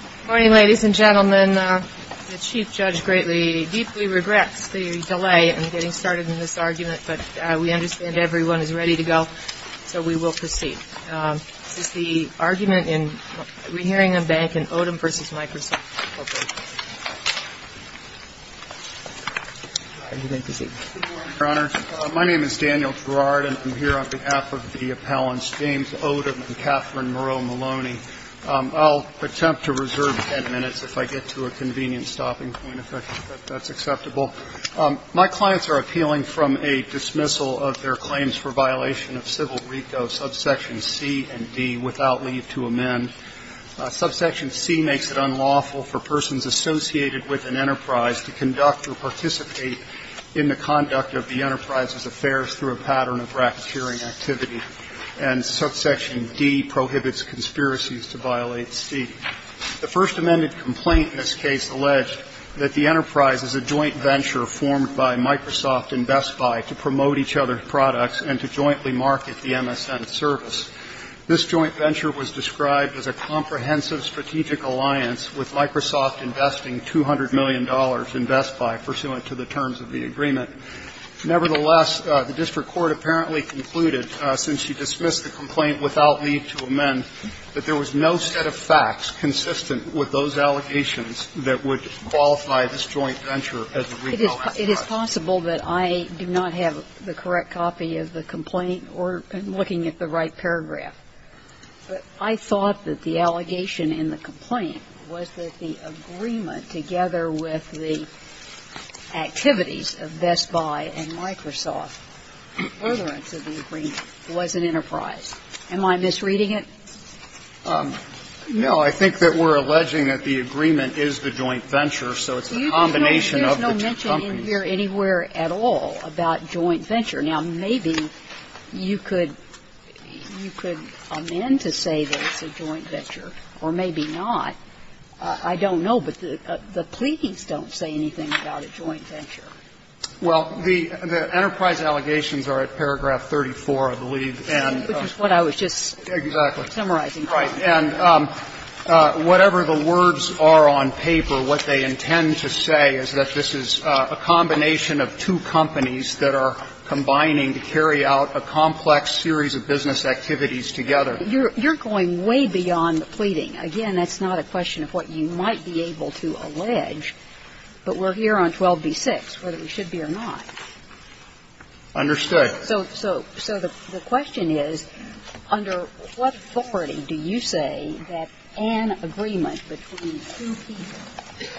Good morning, ladies and gentlemen. The Chief Judge greatly, deeply regrets the delay in getting started in this argument, but we understand everyone is ready to go, so we will proceed. This is the argument in Rehearing and Banking, Odom v. Microsoft Corporation. Good morning, Your Honor. My name is Daniel Gerard, and I'm here on behalf of the appellants James Odom and Catherine Moreau Maloney. I'll attempt to reserve 10 minutes if I get to a convenient stopping point, if that's acceptable. My clients are appealing from a dismissal of their claims for violation of Civil RICO subsection C and D without leave to amend. Subsection C makes it unlawful for persons associated with an enterprise to conduct or participate in the conduct of the enterprise's affairs through a pattern of racketeering activity. And subsection D prohibits conspiracies to violate C. The First Amendment complaint in this case alleged that the enterprise is a joint venture formed by Microsoft and Best Buy to promote each other's products and to jointly market the MSN service. This joint venture was described as a comprehensive strategic alliance with Microsoft investing $200 million in Best Buy pursuant to the terms of the agreement. Nevertheless, the district court apparently concluded, since she dismissed the complaint without leave to amend, that there was no set of facts consistent with those allegations that would qualify this joint venture as a RICO enterprise. It is possible that I do not have the correct copy of the complaint or am looking at the right paragraph. But I thought that the allegation in the complaint was that the agreement, together with the activities of Best Buy and Microsoft, furtherance of the agreement, was an enterprise. Am I misreading it? No. I think that we're alleging that the agreement is the joint venture, so it's a combination of the two companies. There's no mention in here anywhere at all about joint venture. Now, maybe you could amend to say that it's a joint venture, or maybe not. I don't know, but the pleas don't say anything about a joint venture. Well, the enterprise allegations are at paragraph 34, I believe. Which is what I was just summarizing. Right. And whatever the words are on paper, what they intend to say is that this is a combination of two companies that are combining to carry out a complex series of business activities together. You're going way beyond the pleading. Again, that's not a question of what you might be able to allege, but we're here on 12b-6, whether we should be or not. Understood. So the question is, under what authority do you say that an agreement between two people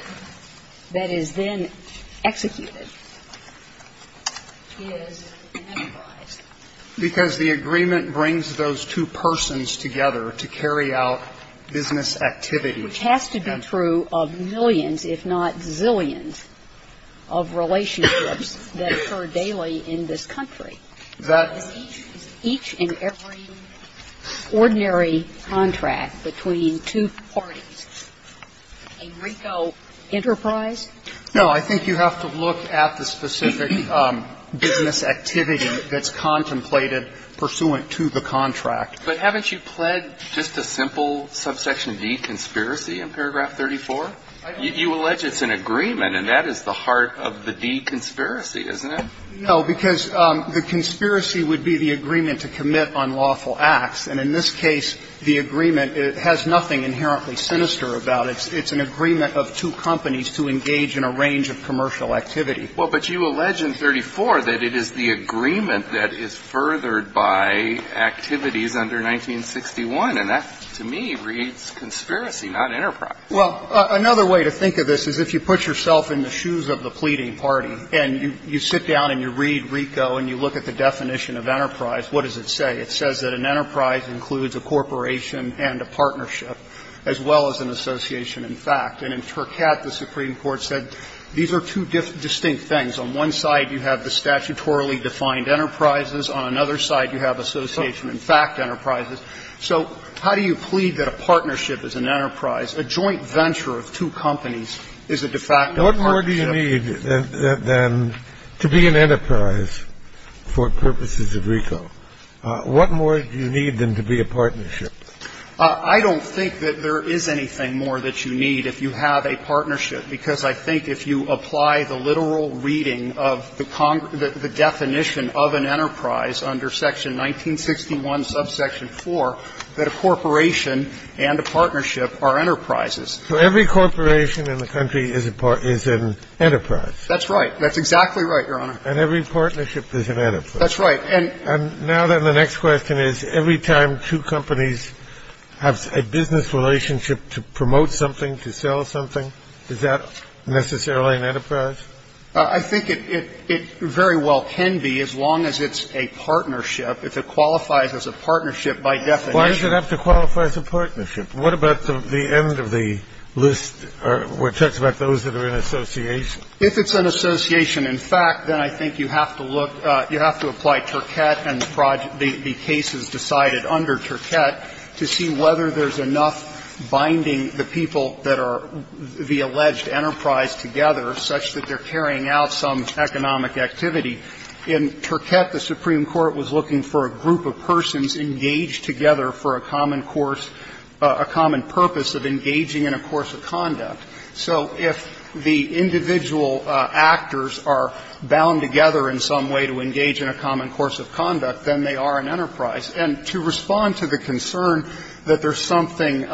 that is then executed is an enterprise? Because the agreement brings those two persons together to carry out business activities. Which has to be true of millions, if not zillions, of relationships that occur daily in this country. Is each and every ordinary contract between two parties a RICO enterprise? No. I think you have to look at the specific business activity that's contemplated pursuant to the contract. But haven't you pled just a simple subsection D, conspiracy, in paragraph 34? You allege it's an agreement, and that is the heart of the D, conspiracy, isn't it? No, because the conspiracy would be the agreement to commit unlawful acts. And in this case, the agreement has nothing inherently sinister about it. It's an agreement of two companies to engage in a range of commercial activity. Well, but you allege in 34 that it is the agreement that is furthered by activities under 1961. And that, to me, reads conspiracy, not enterprise. Well, another way to think of this is if you put yourself in the shoes of the pleading party and you sit down and you read RICO and you look at the definition of enterprise, what does it say? It says that an enterprise includes a corporation and a partnership, as well as an association in fact. And in Tercat, the Supreme Court said these are two distinct things. On one side, you have the statutorily defined enterprises. On another side, you have association in fact enterprises. So how do you plead that a partnership is an enterprise? A joint venture of two companies is a de facto partnership. What more do you need than to be an enterprise for purposes of RICO? What more do you need than to be a partnership? I don't think that there is anything more that you need if you have a partnership, because I think if you apply the literal reading of the definition of an enterprise under section 1961, subsection 4, that a corporation and a partnership are enterprises. So every corporation in the country is an enterprise. That's right. That's exactly right, Your Honor. And every partnership is an enterprise. That's right. And now then the next question is every time two companies have a business relationship to promote something, to sell something, is that necessarily an enterprise? I think it very well can be as long as it's a partnership, if it qualifies as a partnership by definition. Why does it have to qualify as a partnership? What about the end of the list where it talks about those that are in association? If it's an association in fact, then I think you have to look, you have to apply Turkett and the cases decided under Turkett to see whether there's enough binding the people that are the alleged enterprise together such that they're carrying out some economic activity. In Turkett, the Supreme Court was looking for a group of persons engaged together for a common course, a common purpose of engaging in a course of conduct. So if the individual actors are bound together in some way to engage in a common course of conduct, then they are an enterprise. And to respond to the concern that there's something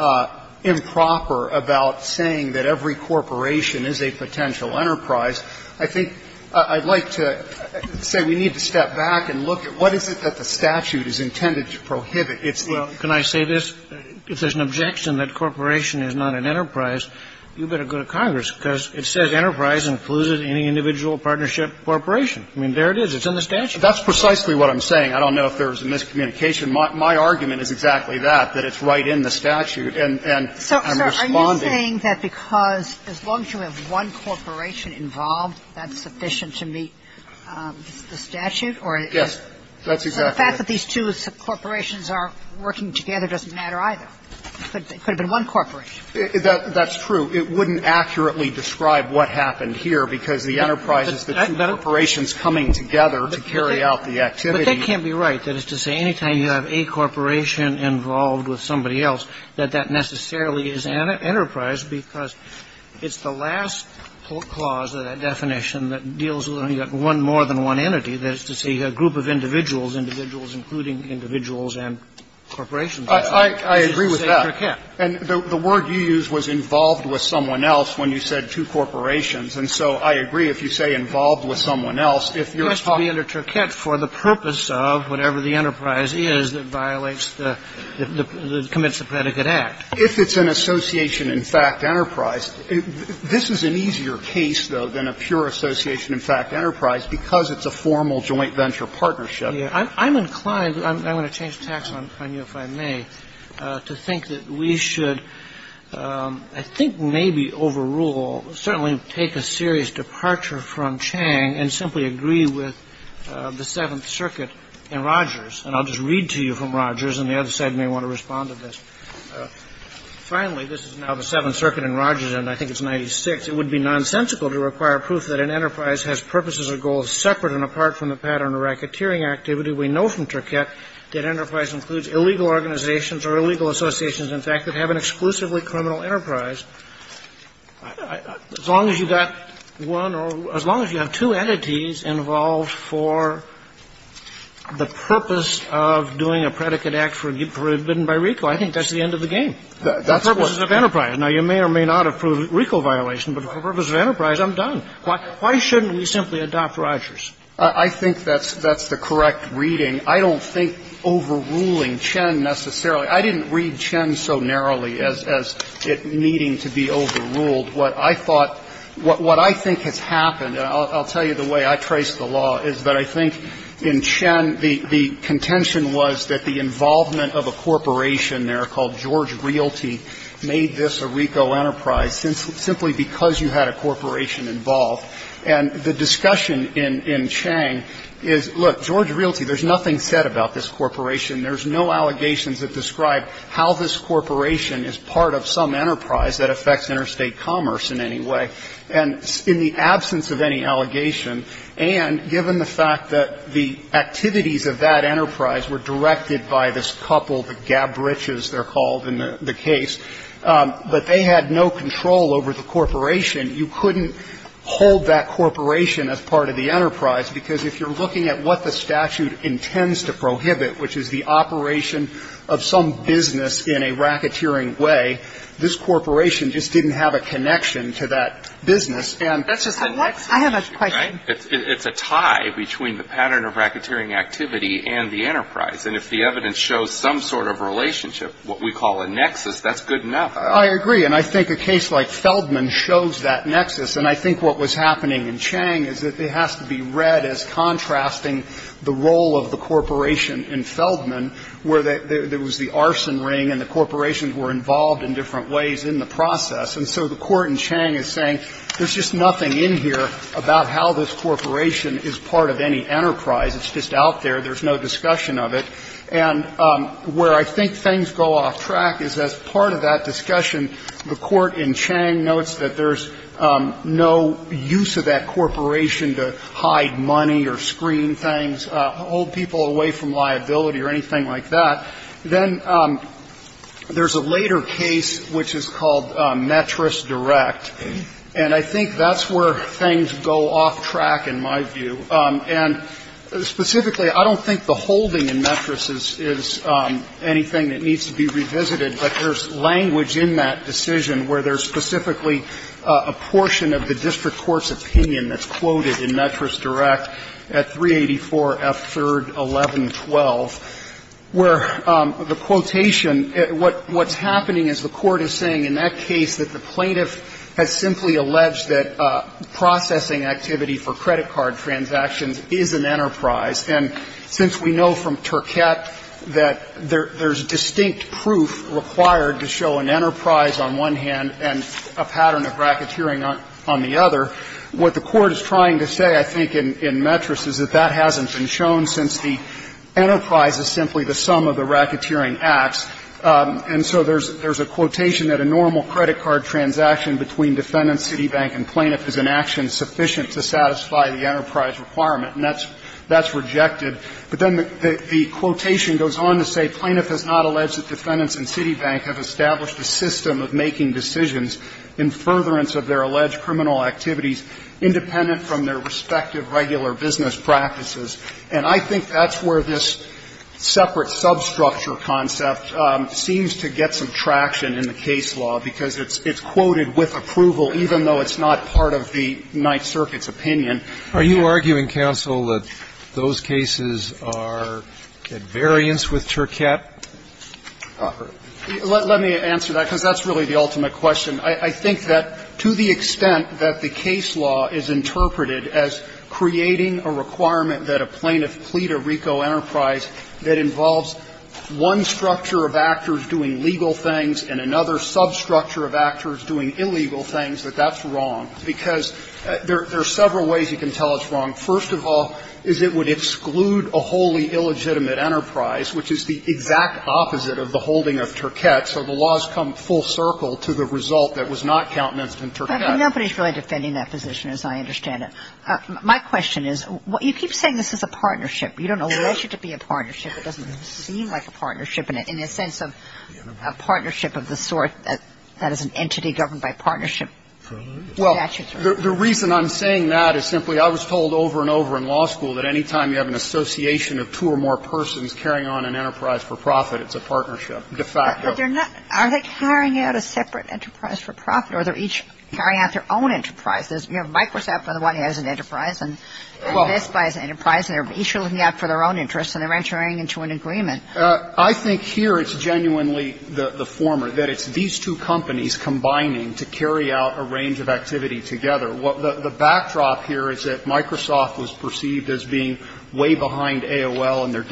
improper about saying that every corporation is a potential enterprise, I think I'd like to say we need to step back and look at what is it that the statute is intended to prohibit. So if you get in law in a case, but I don't think it's an enterprise because it's not, I can't even say. Well, can I say this, if there's an objection that corporation is not an enterprise, you better go to Congress, because it says enterprise included any individual partnership corporation. I mean there it is. It's in the statute. That's precisely what I'm saying. I don't know if there's a miscommunication. My argument is exactly that, that it's right in the statute. And I'm responding. So are you saying that because as long as you have one corporation involved, that's sufficient to meet the statute or? Yes, that's exactly it. So the fact that these two corporations are working together doesn't matter either. It could have been one corporation. That's true. It wouldn't accurately describe what happened here, because the enterprise is the two corporations coming together to carry out the activity. But that can't be right, that is to say any time you have a corporation involved with somebody else, that that necessarily is enterprise, because it's the last clause of that definition that deals with only one more than one entity, that is to say a group of individuals, individuals including individuals and corporations. I agree with that. And the word you used was involved with someone else when you said two corporations. And so I agree if you say involved with someone else, if you're talking. It has to be under truquette for the purpose of whatever the enterprise is that violates the Commits to Predicate Act. If it's an association in fact enterprise, this is an easier case, though, than a pure association in fact enterprise, because it's a formal joint venture partnership. I'm inclined, I'm going to change the tax on you if I may, to think that we should I think maybe overrule, certainly take a serious departure from Chang and simply agree with the Seventh Circuit and Rogers. And I'll just read to you from Rogers, and the other side may want to respond to this. Finally, this is now the Seventh Circuit and Rogers, and I think it's 96. It would be nonsensical to require proof that an enterprise has purposes or goals separate and apart from the pattern of racketeering activity. We know from truquette that enterprise includes illegal organizations or legal associations in fact that have an exclusively criminal enterprise. As long as you've got one or as long as you have two entities involved for the purpose of doing a predicate act for a bid by RICO, I think that's the end of the game. That's the purpose of enterprise. Now, you may or may not have proved RICO violation, but for the purpose of enterprise, I'm done. Why shouldn't we simply adopt Rogers? I think that's the correct reading. I don't think overruling Chen necessarily. I didn't read Chen so narrowly as it needing to be overruled. What I thought, what I think has happened, and I'll tell you the way I trace the law, is that I think in Chen the contention was that the involvement of a corporation there called George Realty made this a RICO enterprise simply because you had a corporation involved. And the discussion in Chang is, look, George Realty, there's nothing said about this corporation. There's no allegations that describe how this corporation is part of some enterprise that affects interstate commerce in any way. And in the absence of any allegation, and given the fact that the activities of that enterprise were directed by this couple, the Gab Riches, they're called in the case, but they had no control over the corporation, you couldn't hold that corporation as part of the enterprise, because if you're looking at what the statute intends to prohibit, which is the operation of some business in a racketeering way, this corporation just didn't have a connection to that business. And I have a question. It's a tie between the pattern of racketeering activity and the enterprise. And if the evidence shows some sort of relationship, what we call a nexus, that's good enough. I agree. And I think a case like Feldman shows that nexus. And I think what was happening in Chang is that it has to be read as contrasting the role of the corporation in Feldman, where there was the arson ring and the corporations were involved in different ways in the process. And so the Court in Chang is saying there's just nothing in here about how this corporation is part of any enterprise. It's just out there. There's no discussion of it. And where I think things go off track is as part of that discussion, the Court in Chang holds people away from liability or anything like that. Then there's a later case, which is called Metris Direct. And I think that's where things go off track, in my view. And specifically, I don't think the holding in Metris is anything that needs to be revisited. But there's language in that decision where there's specifically a portion of the case, I think, in Metris, where the quotation, what's happening is the Court is saying in that case that the plaintiff has simply alleged that processing activity for credit card transactions is an enterprise. And since we know from Turcotte that there's distinct proof required to show an enterprise on one hand and a pattern of racketeering on the other, what the Court is trying to say, I think, in Metris is that that hasn't been shown since the enterprise is simply the sum of the racketeering acts. And so there's a quotation that a normal credit card transaction between defendant, Citibank, and plaintiff is an action sufficient to satisfy the enterprise requirement. And that's rejected. But then the quotation goes on to say, "...plaintiff has not alleged that defendants and Citibank have established a system of making decisions in furtherance of their alleged criminal activities independent from their respective regular business practices." And I think that's where this separate substructure concept seems to get some traction in the case law, because it's quoted with approval, even though it's not part of the Ninth Circuit's opinion. Are you arguing, counsel, that those cases are at variance with Turcotte? Let me answer that, because that's really the ultimate question. I think that to the extent that the case law is interpreted as creating a requirement that a plaintiff plead a RICO enterprise that involves one structure of actors doing legal things and another substructure of actors doing illegal things, that that's wrong. Because there are several ways you can tell it's wrong. First of all is it would exclude a wholly illegitimate enterprise, which is the exact opposite of the holding of Turcotte. So the law has come full circle to the result that was not countenanced in Turcotte. Nobody's really defending that position, as I understand it. My question is, you keep saying this is a partnership. You don't allege it to be a partnership. It doesn't seem like a partnership in a sense of a partnership of the sort that is an entity governed by partnership statutes. Well, the reason I'm saying that is simply I was told over and over in law school that any time you have an association of two or more persons carrying on an enterprise for profit, it's a partnership, de facto. But they're not – are they carrying out a separate enterprise for profit or are they each carrying out their own enterprise? There's, you know, Microsoft, by the way, has an enterprise, and this guy has an enterprise, and they're each looking out for their own interests and they're entering into an agreement. I think here it's genuinely the former, that it's these two companies combining to carry out a range of activity together. The backdrop here is that Microsoft was perceived as being way behind AOL and they're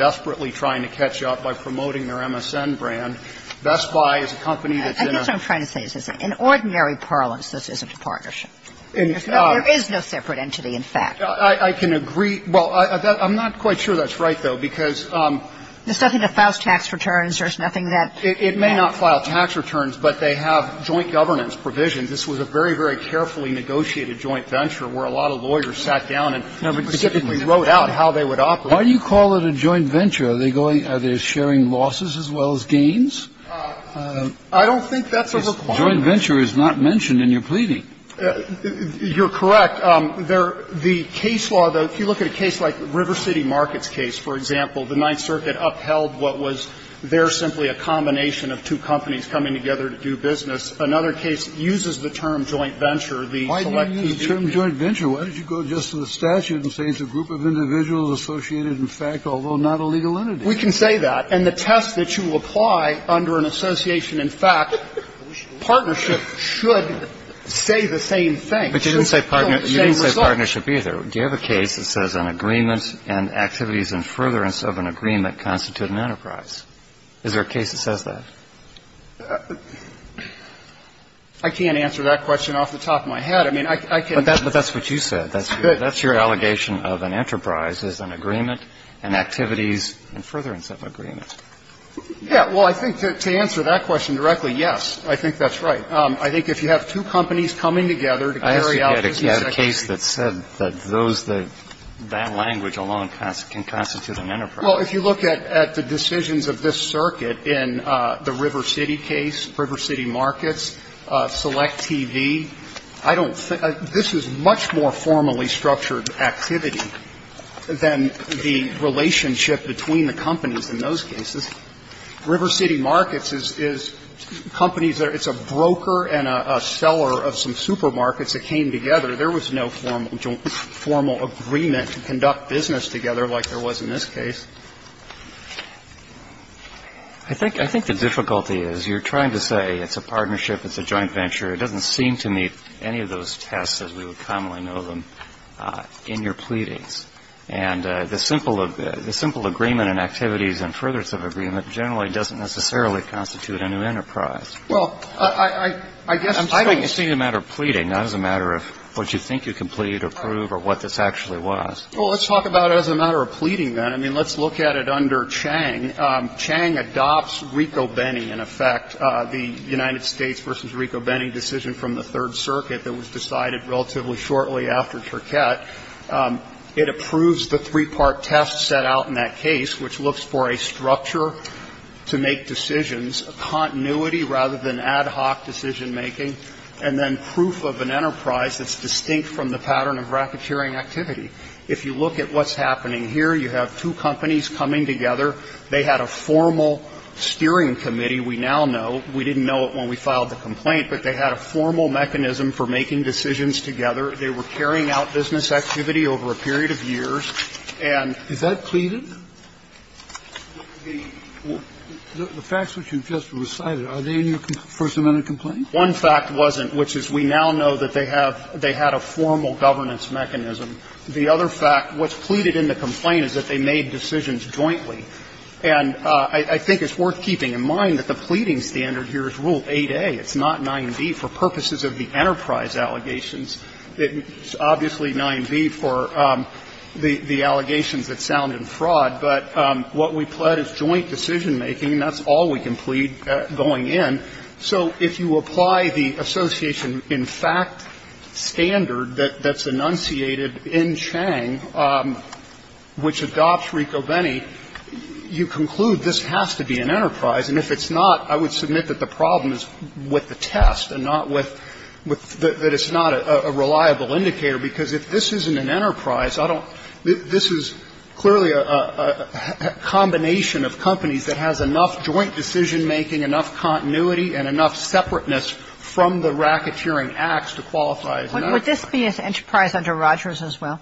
Best Buy is a company that's in a – I guess what I'm trying to say is in ordinary parlance, this isn't a partnership. There is no separate entity, in fact. I can agree – well, I'm not quite sure that's right, though, because – There's nothing that files tax returns. There's nothing that – It may not file tax returns, but they have joint governance provisions. This was a very, very carefully negotiated joint venture where a lot of lawyers sat down and wrote out how they would operate. Why do you call it a joint venture? Are they going – are they sharing losses as well as gains? I don't think that's a requirement. Joint venture is not mentioned in your pleading. You're correct. The case law, though, if you look at a case like the River City Markets case, for example, the Ninth Circuit upheld what was there simply a combination of two companies coming together to do business. Another case uses the term joint venture, the selectivity. Why do you use the term joint venture? Why don't you go just to the statute and say it's a group of individuals associated, in fact, although not a legal entity? We can say that. And the test that you apply under an association, in fact, partnership should say the same thing. But you didn't say partnership either. Do you have a case that says an agreement and activities and furtherance of an agreement constitute an enterprise? Is there a case that says that? I can't answer that question off the top of my head. I mean, I can – But that's what you said. That's your allegation of an enterprise is an agreement and activities and furtherance of an agreement. Yeah. Well, I think to answer that question directly, yes, I think that's right. I think if you have two companies coming together to carry out business activities – I asked you to get a case that said that those that – that language alone can constitute an enterprise. Well, if you look at the decisions of this circuit in the River City case, River City Markets, Select TV, I don't think – this is much more formally structured activity than the relationship between the companies in those cases. River City Markets is companies that are – it's a broker and a seller of some supermarkets that came together. There was no formal agreement to conduct business together like there was in this case. I think the difficulty is you're trying to say it's a partnership, it's a joint venture. It doesn't seem to meet any of those tests as we would commonly know them. In your pleadings, and the simple agreement in activities and furthers of agreement generally doesn't necessarily constitute a new enterprise. Well, I guess I don't see it as a matter of pleading, not as a matter of what you think you can plead or prove or what this actually was. Well, let's talk about it as a matter of pleading, then. I mean, let's look at it under Chang. Chang adopts Rico-Benni, in effect, the United States versus Rico-Benni decision from the Third Circuit that was decided relatively shortly after Turquette. It approves the three-part test set out in that case, which looks for a structure to make decisions, a continuity rather than ad hoc decision-making, and then proof of an enterprise that's distinct from the pattern of racketeering activity. If you look at what's happening here, you have two companies coming together. They had a formal steering committee, we now know. We didn't know it when we filed the complaint, but they had a formal mechanism for making decisions together. They were carrying out business activity over a period of years, and they had a formal governance mechanism. The facts which you just recited, are they in your first amendment complaint? One fact wasn't, which is we now know that they have they had a formal governance mechanism. The other fact, what's pleaded in the complaint is that they made decisions jointly. And I think it's worth keeping in mind that the pleading standard here is Rule 8a. It's not 9b. For purposes of the enterprise allegations, it's obviously 9b for the allegations that sound in fraud, but what we pled is joint decision-making. That's all we can plead going in. So if you apply the association in fact standard that's enunciated in Chang, which adopts Riccobeni, you conclude this has to be an enterprise. And if it's not, I would submit that the problem is with the test and not with the that it's not a reliable indicator, because if this isn't an enterprise, I don't this is clearly a combination of companies that has enough joint decision-making, enough continuity, and enough separateness from the racketeering acts to qualify as an enterprise. Kagan, would this be an enterprise under Rogers as well?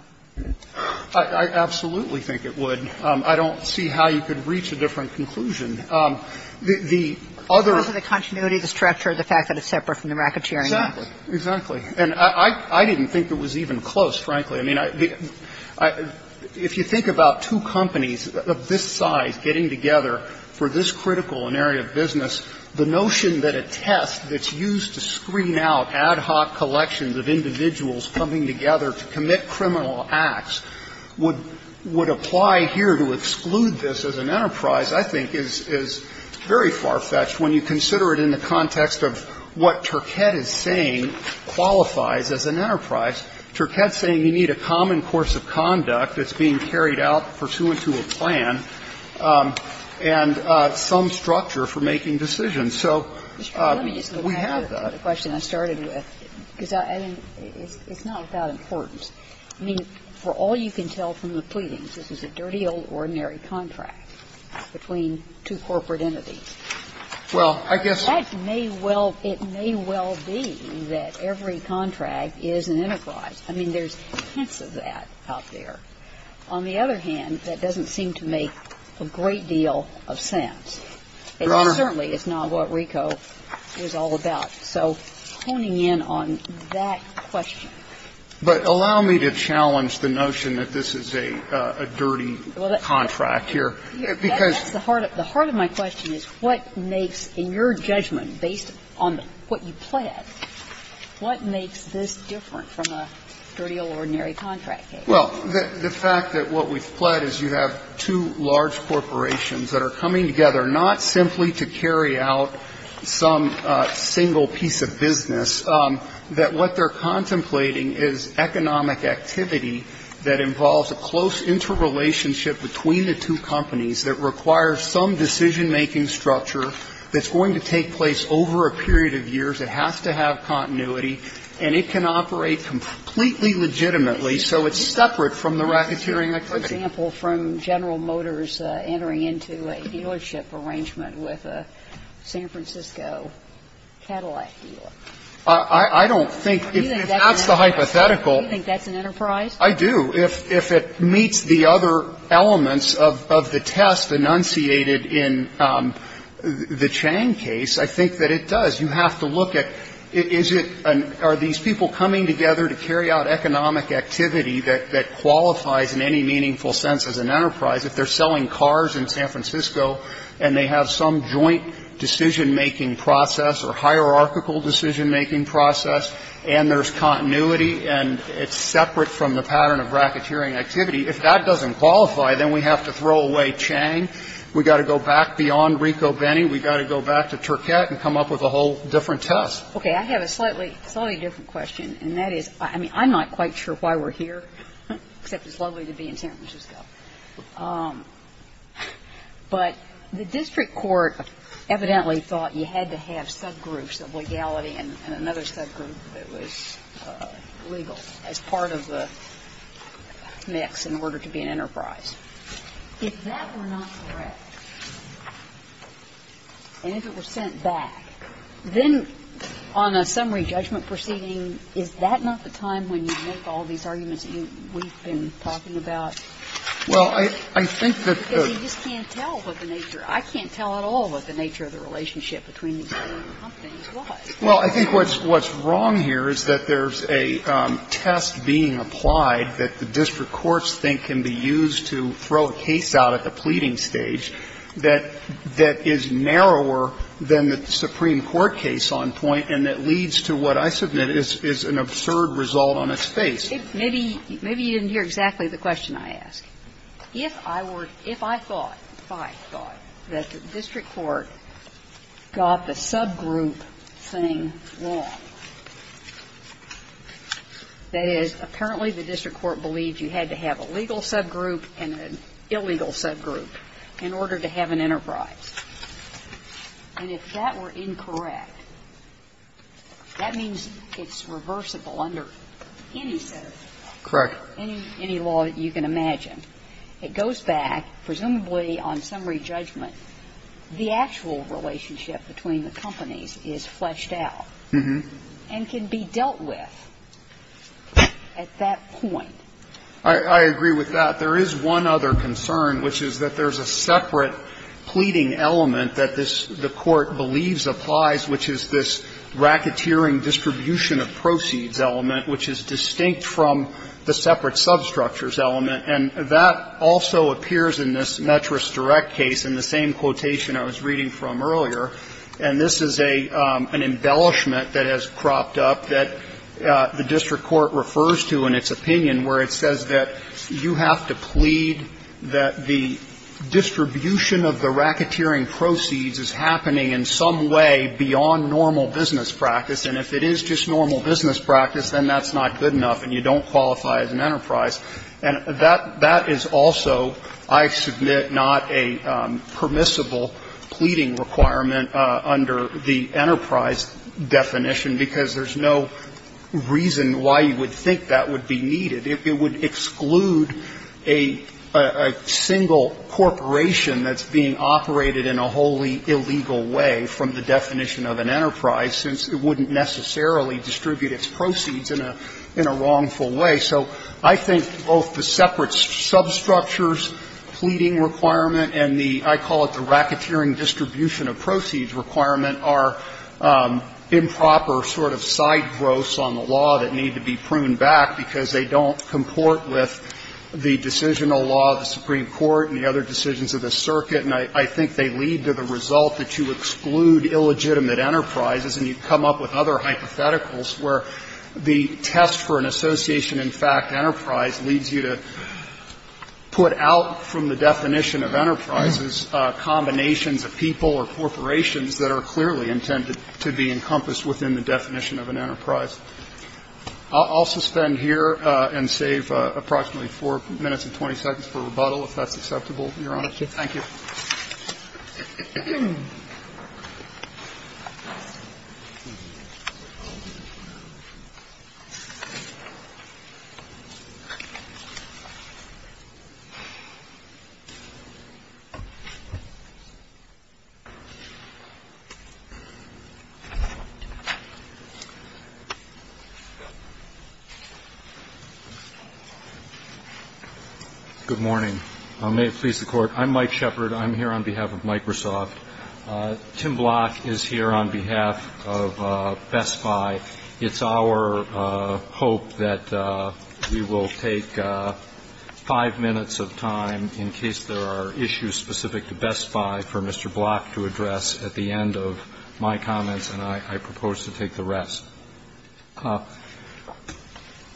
I absolutely think it would. I don't see how you could reach a different conclusion. The other one is the continuity, the structure, the fact that it's separate from the racketeering act. Exactly. And I didn't think it was even close, frankly. I mean, if you think about two companies of this size getting together for this critical in area of business, the notion that a test that's used to screen out ad hoc collections of individuals coming together to commit criminal acts would apply here to exclude this as an enterprise, I think, is very far-fetched when you consider it in the context of what Turkett is saying qualifies as an enterprise. Turkett is saying you need a common course of conduct that's being carried out pursuant to a plan and some structure for making decisions. So we have that. And I think that's the question I started with, because it's not without importance. I mean, for all you can tell from the pleadings, this is a dirty old ordinary contract between two corporate entities. Well, I guess that may well be that every contract is an enterprise. I mean, there's hints of that out there. On the other hand, that doesn't seem to make a great deal of sense. Your Honor. It certainly is not what RICO is all about. So honing in on that question. But allow me to challenge the notion that this is a dirty contract here, because The heart of my question is what makes, in your judgment, based on what you pled, what makes this different from a dirty old ordinary contract case? Well, the fact that what we've pled is you have two large corporations that are coming together, not simply to carry out some single piece of business, that what they're contemplating is economic activity that involves a close interrelationship between the two companies that requires some decision-making structure that's going to take place over a period of years. It has to have continuity. And it can operate completely legitimately, so it's separate from the racketeering activity. And I don't think that that's a hypothetical, but I do think that it's a hypothetical. And I think that's an example from General Motors entering into a dealership arrangement with a San Francisco Cadillac dealer. I don't think if that's the hypothetical, I do, if it meets the other elements of the test enunciated in the Chang case, I think that it does. You have to look at, is it, are these people coming together to carry out economic activity that qualifies in any meaningful sense as an enterprise? If they're selling cars in San Francisco and they have some joint decision-making process or hierarchical decision-making process, and there's continuity and it's separate from the pattern of racketeering activity, if that doesn't qualify, then we have to throw away Chang. We've got to go back beyond Rico-Benny. We've got to go back to Turquette and come up with a whole different test. Okay. I have a slightly different question, and that is, I mean, I'm not quite sure why we're here, except it's lovely to be in San Francisco. But the district court evidently thought you had to have subgroups of legality and another subgroup that was legal as part of the mix in order to be an enterprise. If that were not correct and if it were sent back, then on a summary judgment proceeding, is that not the time when you make all these arguments that you we've been talking about? Well, I think that the ---- Because you just can't tell what the nature of the relationship between these different companies was. Well, I think what's wrong here is that there's a test being applied that the district courts think can be used to throw a case out at the pleading stage that is narrower than the Supreme Court case on point, and that leads to what I submit is an absurd result on its face. Maybe you didn't hear exactly the question I asked. If I were to ---- if I thought, if I thought that the district court got the subgroup thing wrong, that is, apparently the district court believed you had to have a legal subgroup and an illegal subgroup in order to have an enterprise, and if that were incorrect, that means it's reversible under any set of ---- Correct. ---- or any law that you can imagine. It goes back, presumably on summary judgment, the actual relationship between the companies is fleshed out and can be dealt with at that point. I agree with that. There is one other concern, which is that there's a separate pleading element that this ---- the court believes applies, which is this racketeering distribution of proceeds element, which is distinct from the separate substructures element, and that also appears in this Metris Direct case in the same quotation I was reading from earlier, and this is a ---- an embellishment that has cropped up that the district court refers to in its opinion, where it says that you have to plead that the distribution of the racketeering proceeds is happening in some way beyond normal business practice, and if it is just normal business practice, then that's not good enough and you don't qualify as an enterprise. And that is also, I submit, not a permissible pleading requirement under the enterprise definition, because there's no reason why you would think that would be needed. It would exclude a single corporation that's being operated in a wholly illegal way from the definition of an enterprise, since it wouldn't necessarily distribute its proceeds in a wrongful way. So I think both the separate substructures pleading requirement and the ---- I call it the racketeering distribution of proceeds requirement are improper sort of side growths on the law that need to be pruned back, because they don't comport with the decisional law of the Supreme Court and the other decisions of the circuit, and I think they lead to the result that you exclude illegitimate enterprises and you come up with other hypotheticals where the test for an association in fact enterprise leads you to put out from the definition of enterprises combinations of people or corporations that are clearly intended to be encompassed within the definition of an enterprise. I'll suspend here and save approximately 4 minutes and 20 seconds for rebuttal, if that's acceptable, Your Honor. Thank you. Good morning. May it please the Court. I'm Mike Shepherd. I'm here on behalf of Microsoft. Tim Block is here on behalf of Best Buy. It's our hope that we will take 5 minutes of time in case there are issues specific to Best Buy for Mr. Block to address at the end of my comments, and I propose to take the rest.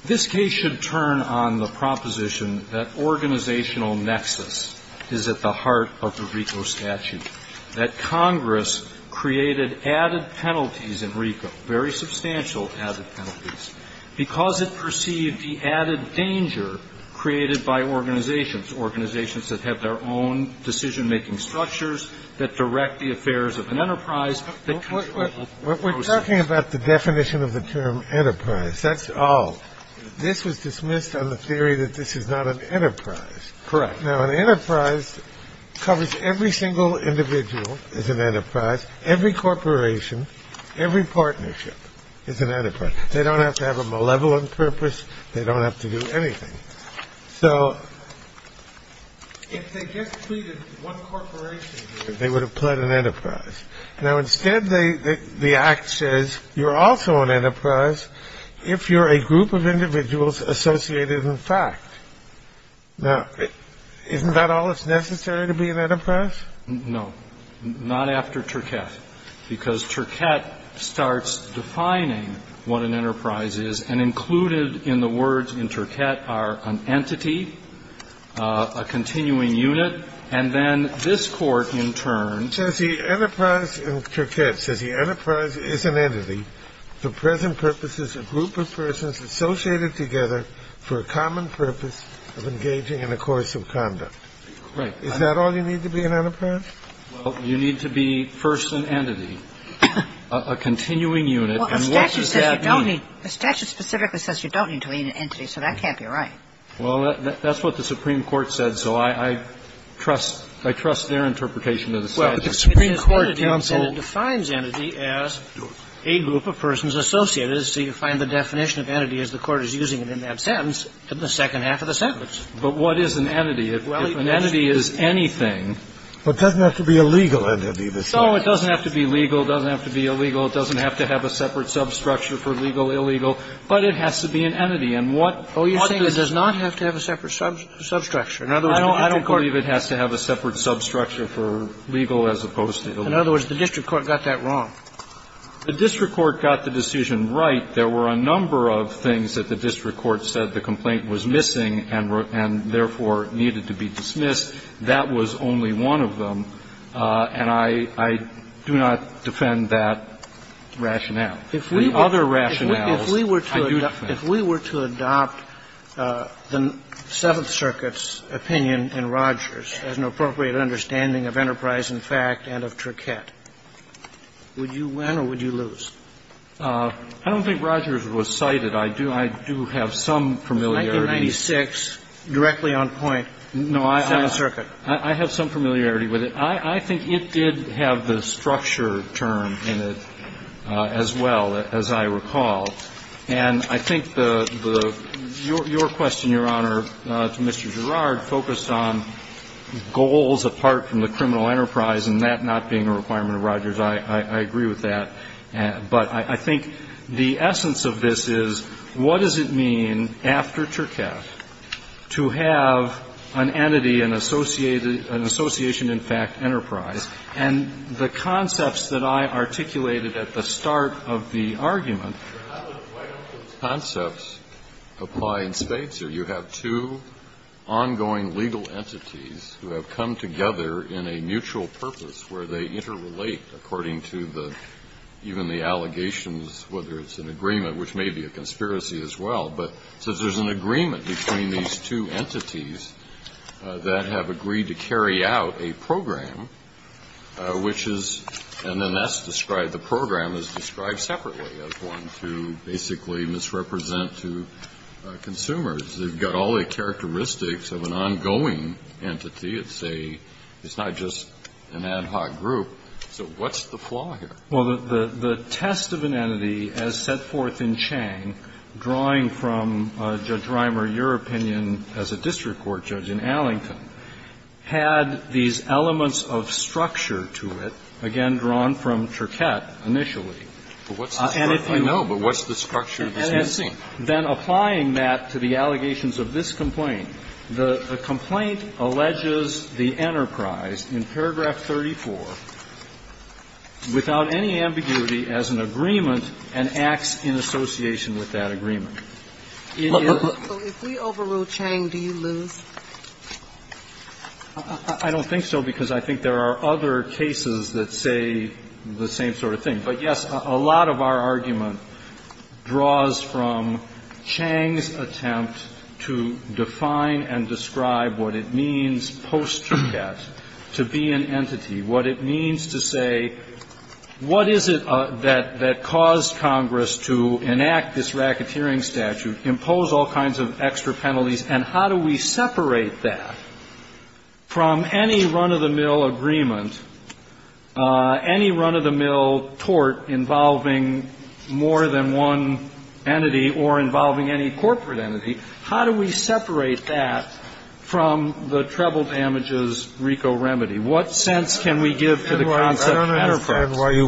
This case should turn on the proposition that organizational nexus is at the heart of the RICO statute, that Congress created added penalties in RICO, very substantial added penalties, because it perceived the added danger created by organizations, organizations that have their own decision-making structures, that direct the affairs of an enterprise. What's the definition of enterprise? We have to be clear about that. We're talking about the definition of the term enterprise, that's all. This was dismissed on the theory that this is not an enterprise. Correct. Now, an enterprise covers every single individual as an enterprise, every corporation, every partnership is an enterprise. They don't have to have a malevolent purpose. They don't have to do anything. So if they just treated one corporation, they would have pled an enterprise. Now, instead, the act says you're also an enterprise if you're a group of individuals associated in fact. Now, isn't that all that's necessary to be an enterprise? No, not after Turcotte, because Turcotte starts defining what an enterprise is, and included in the words in Turcotte are an entity, a continuing unit, and then this Court, in turn, says the enterprise in Turcotte says the enterprise is an entity for present purposes, a group of persons associated together for a common purpose of engaging in a course of conduct. Right. Is that all you need to be an enterprise? Well, you need to be first an entity, a continuing unit, and what does that mean? Well, the statute says you don't need to be an entity, so that can't be right. Well, that's what the Supreme Court said, so I trust their interpretation of the statute. Well, but the Supreme Court counseled do it. It defines entity as a group of persons associated. So you find the definition of entity as the Court is using it in that sentence in the second half of the sentence. But what is an entity? If an entity is anything. Well, it doesn't have to be a legal entity. So it doesn't have to be legal, doesn't have to be illegal, it doesn't have to have a separate substructure for legal, illegal, but it has to be an entity. And what does this mean? Oh, you're saying it does not have to have a separate substructure. In other words, the district court. I don't believe it has to have a separate substructure for legal as opposed to illegal. In other words, the district court got that wrong. The district court got the decision right. There were a number of things that the district court said the complaint was missing and therefore needed to be dismissed. That was only one of them. And I do not defend that rationale. The other rationales I do defend. If we were to adopt the Seventh Circuit's opinion in Rogers as an appropriate understanding of enterprise and fact and of tricket, would you win or would you lose? I don't think Rogers was cited. I do have some familiarity. It was 1996, directly on point, Seventh Circuit. I have some familiarity with it. I think it did have the structure term in it as well, as I recall. And I think the – your question, Your Honor, to Mr. Gerrard, focused on goals apart from the criminal enterprise and that not being a requirement of Rogers. I agree with that. But I think the essence of this is what does it mean after tricket to have an entity, an association in fact enterprise, and the concepts that I articulated at the start of the argument. Breyer, why don't those concepts apply in spades here? You have two ongoing legal entities who have come together in a mutual purpose where they interrelate according to the – even the allegations, whether it's an agreement, which may be a conspiracy as well. But since there's an agreement between these two entities that have agreed to carry out a program, which is – and then that's described – the program is described separately as one to basically misrepresent to consumers. They've got all the characteristics of an ongoing entity. It's a – it's not just an ad hoc group. So what's the flaw here? Well, the test of an entity as set forth in Chang, drawing from Judge Reimer, your opinion as a district court judge in Allington, had these elements of structure to it, again drawn from tricket initially. But what's the structure? I know, but what's the structure that's missing? Then applying that to the allegations of this complaint, the complaint alleges the enterprise in paragraph 34 without any ambiguity as an agreement and acts in association with that agreement. In your opinion, if we overrule Chang, do you lose? I don't think so because I think there are other cases that say the same sort of thing. But, yes, a lot of our argument draws from Chang's attempt to define and describe what it means post-tricket to be an entity, what it means to say, what is it that caused Congress to enact this racketeering statute, impose all kinds of extra penalties, and how do we separate that from any run-of-the-mill agreement, any run-of-the-mill tort involving more than one entity or involving any corporate entity? How do we separate that from the treble damages RICO remedy? What sense can we give to the concept of enterprise? I understand why you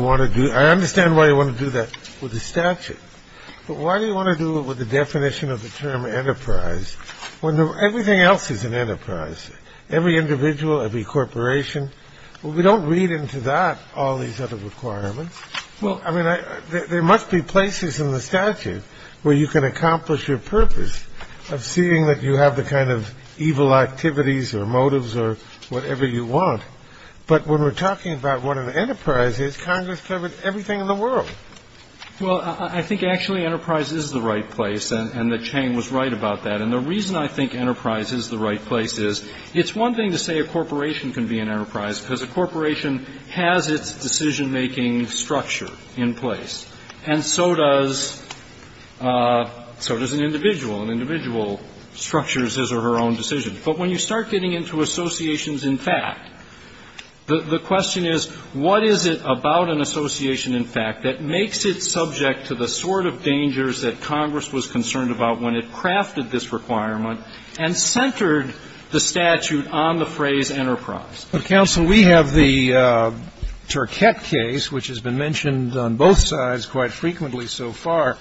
want to do that with the statute. But why do you want to do it with the definition of the term enterprise when everything else is an enterprise, every individual, every corporation? We don't read into that all these other requirements. I mean, there must be places in the statute where you can accomplish your purpose of seeing that you have the kind of evil activities or motives or whatever you want. But when we're talking about what an enterprise is, Congress covered everything in the world. Well, I think actually enterprise is the right place, and that Chang was right about that. And the reason I think enterprise is the right place is it's one thing to say a corporation can be an enterprise because a corporation has its decision-making structure in place, and so does an individual. An individual structures his or her own decision. But when you start getting into associations in fact, the question is, what is it about an association in fact that makes it subject to the sort of dangers that Congress was concerned about when it crafted this requirement and centered the statute on the phrase enterprise? But, counsel, we have the Turquette case, which has been mentioned on both sides quite frequently so far.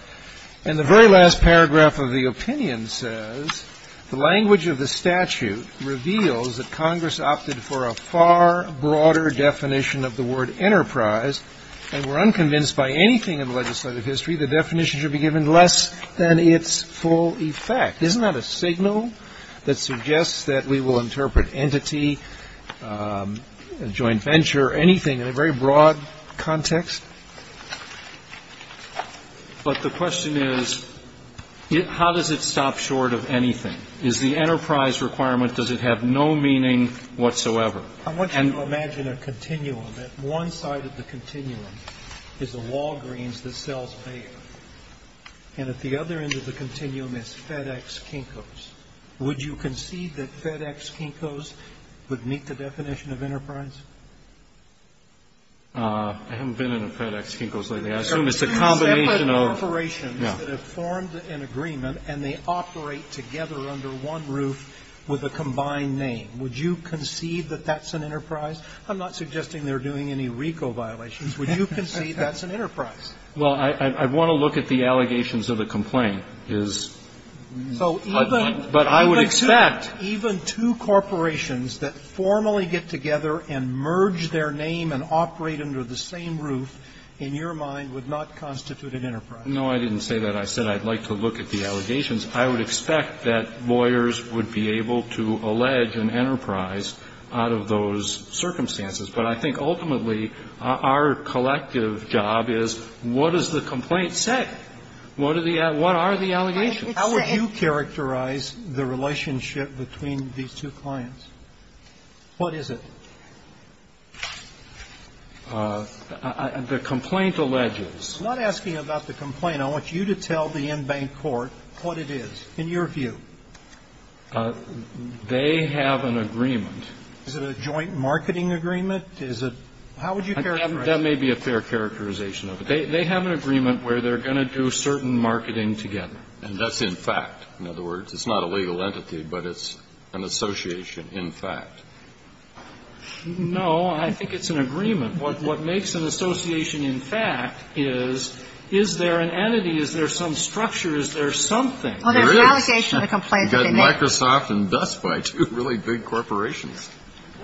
And the very last paragraph of the opinion says the language of the statute reveals that Congress opted for a far broader definition of the word enterprise, and we're unconvinced by anything in legislative history the definition should be given less than its full effect. Isn't that a signal that suggests that we will interpret entity, joint venture, anything in a very broad context? But the question is, how does it stop short of anything? Is the enterprise requirement, does it have no meaning whatsoever? I want you to imagine a continuum. At one side of the continuum is a Walgreens that sells paper, and at the other end of the continuum is FedEx Kinko's. Would you concede that FedEx Kinko's would meet the definition of enterprise? I haven't been in a FedEx Kinko's lately. I assume it's a combination of... Separate corporations that have formed an agreement and they operate together under one roof with a combined name. Would you concede that that's an enterprise? I'm not suggesting they're doing any RICO violations. Would you concede that's an enterprise? Well, I want to look at the allegations of the complaint. Is... So even... But I would expect... Even two corporations that formally get together and merge their name and operate under the same roof, in your mind, would not constitute an enterprise. No, I didn't say that. I said I'd like to look at the allegations. I would expect that lawyers would be able to allege an enterprise out of those circumstances. But I think ultimately, our collective job is, what does the complaint say? What are the allegations? How would you characterize the relationship between these two clients? What is it? The complaint alleges... I'm not asking about the complaint. I want you to tell the in-bank court what it is, in your view. They have an agreement. Is it a joint marketing agreement? Is it... How would you characterize... That may be a fair characterization of it. They have an agreement where they're going to do certain marketing together. And that's in fact. In other words, it's not a legal entity, but it's an association, in fact. No, I think it's an agreement. What makes an association, in fact, is, is there an entity? Is there some structure? Is there something? Well, there's an allegation of the complaint that they made. Microsoft and Best Buy, two really big corporations.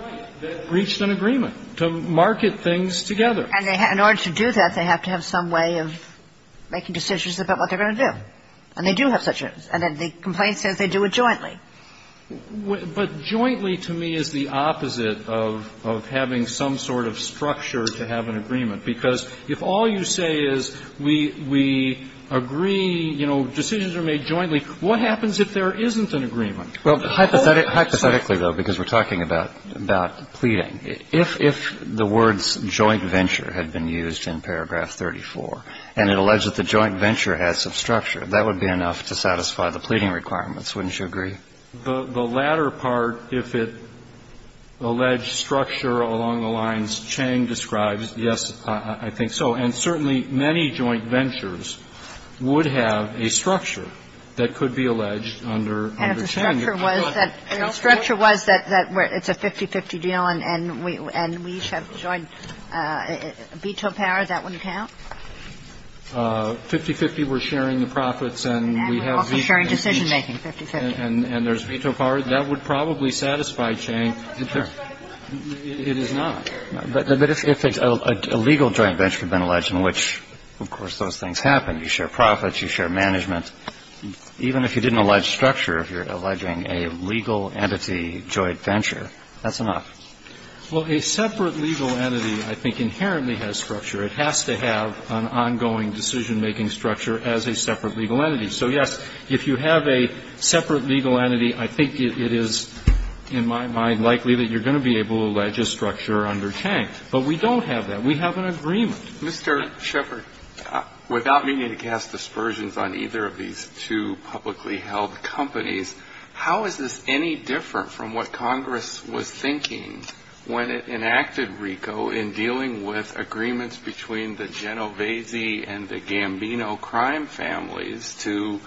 Right. That reached an agreement to market things together. And in order to do that, they have to have some way of making decisions about what they're going to do. And they do have such a... And then the complaint says they do it jointly. But jointly, to me, is the opposite of having some sort of structure to have an agreement. Because if all you say is, we agree, you know, decisions are made jointly, what happens if there isn't an agreement? Well, hypothetically, though, because we're talking about, about pleading, if, if the words joint venture had been used in paragraph 34, and it alleged that the joint venture had some structure, that would be enough to satisfy the pleading requirements. Wouldn't you agree? The latter part, if it alleged structure along the lines Chang describes, yes, I think so. And certainly, many joint ventures would have a structure that could be alleged under, under Chang. And if the structure was that, if the structure was that, that it's a 50-50 deal, and, and we, and we each have joint veto power, that wouldn't count? 50-50, we're sharing the profits, and we have veto power. And we're also sharing decision-making, 50-50. And, and there's veto power. That would probably satisfy Chang. It's just, it is not. But, but if, if a legal joint venture had been alleged, in which, of course, those things happen, you share profits, you share management, even if you didn't allege structure, if you're alleging a legal entity joint venture, that's enough. Well, a separate legal entity, I think, inherently has structure. It has to have an ongoing decision-making structure as a separate legal entity. So, yes, if you have a separate legal entity, I think it is, in my mind, likely that you're going to be able to allege a structure under Chang. But we don't have that. We have an agreement. Mr. Shepard, without meaning to cast dispersions on either of these two publicly held companies, how is this any different from what Congress was thinking when it enacted RICO in dealing with agreements between the Genovese and the Gambino crime families to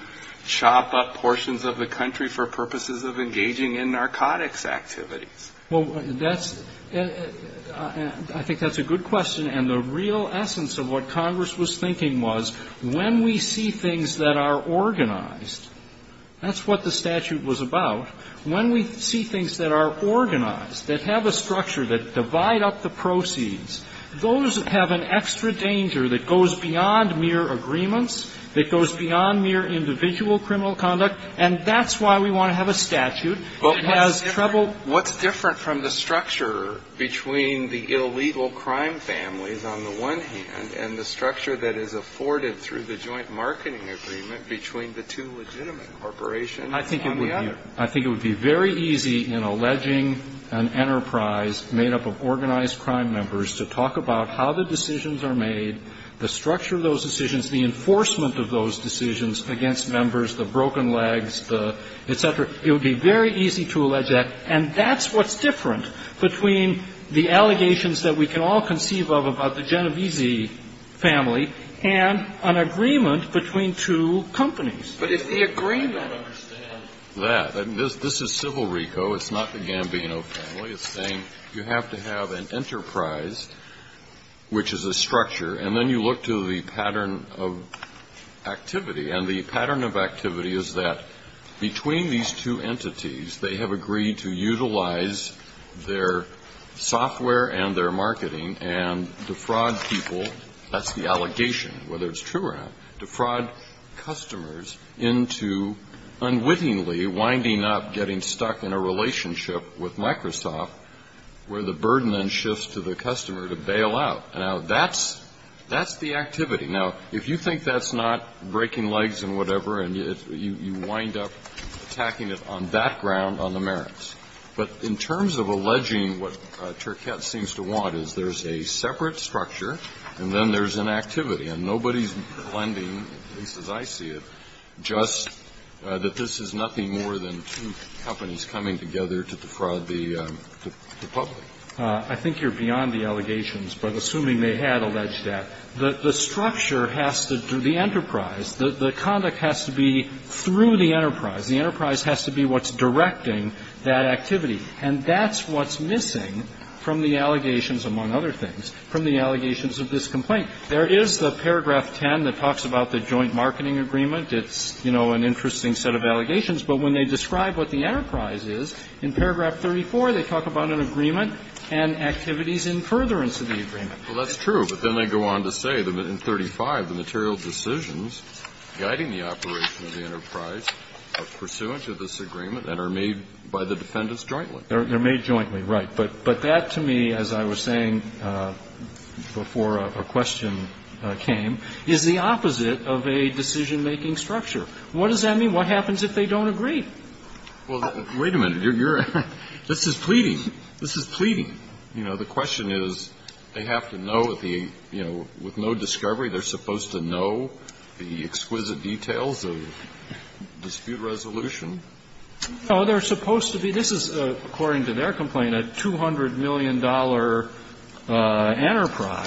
chop up portions of the country for purposes of engaging in Well, that's, I think that's a good question. And the real essence of what Congress was thinking was, when we see things that are organized, that's what the statute was about, when we see things that are organized, that have a structure, that divide up the proceeds, those have an extra danger that goes beyond mere agreements, that goes beyond mere individual criminal conduct, and that's why we want to have a statute that has trouble. What's different from the structure between the illegal crime families on the one hand and the structure that is afforded through the joint marketing agreement between the two legitimate corporations on the other? I think it would be very easy in alleging an enterprise made up of organized crime members to talk about how the decisions are made, the structure of those decisions, the enforcement of those decisions against members, the broken legs, the, et cetera, it would be very easy to allege that, and that's what's different between the allegations that we can all conceive of about the Genovese family and an agreement between two companies. But if the agreement I don't understand that. This is civil RICO. It's not the Gambino family. It's saying you have to have an enterprise, which is a structure, and then you look to the pattern of activity, and the pattern of activity is that between these two entities, they have agreed to utilize their software and their marketing and defraud people, that's the allegation, whether it's true or not, defraud customers into unwittingly winding up getting stuck in a relationship with Microsoft where the burden then shifts to the customer to bail out. Now, that's the activity. Now, if you think that's not breaking legs and whatever, and you wind up attacking it on that ground on the merits, but in terms of alleging what Turcotte seems to want is there's a separate structure, and then there's an activity, and nobody's blending, at least as I see it, just that this is nothing more than two companies coming together to defraud the public. I think you're beyond the allegations, but assuming they had alleged that, the structure has to do the enterprise. The conduct has to be through the enterprise. The enterprise has to be what's directing that activity. And that's what's missing from the allegations, among other things, from the allegations of this complaint. There is the paragraph 10 that talks about the joint marketing agreement. It's, you know, an interesting set of allegations. But when they describe what the enterprise is, in paragraph 34, they talk about an agreement and activities in furtherance of the agreement. Well, that's true, but then they go on to say that in 35, the material decisions guiding the operation of the enterprise are pursuant to this agreement and are made by the defendants jointly. They're made jointly, right. But that, to me, as I was saying before a question came, is the opposite of a decision-making structure. What does that mean? What happens if they don't agree? Well, wait a minute. This is pleading. This is pleading. You know, the question is, they have to know that the, you know, with no discovery, they're supposed to know the exquisite details of dispute resolution? No, they're supposed to be. This is, according to their complaint, a $200 million enterprise.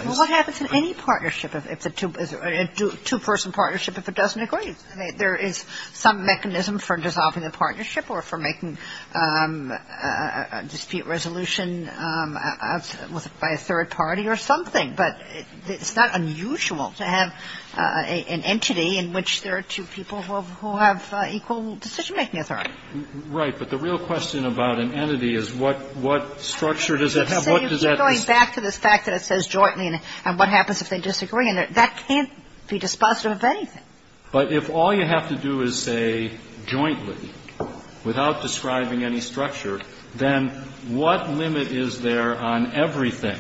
Well, what happens in any partnership if it's a two-person partnership if it doesn't agree? There is some mechanism for dissolving the partnership or for making a dispute resolution by a third party or something. But it's not unusual to have an entity in which there are two people who have equal decision-making authority. Right. But the real question about an entity is what structure does it have? What does that mean? You're going back to this fact that it says jointly, and what happens if they disagree? And that can't be dispositive of anything. But if all you have to do is say jointly, without describing any structure, then what limit is there on everything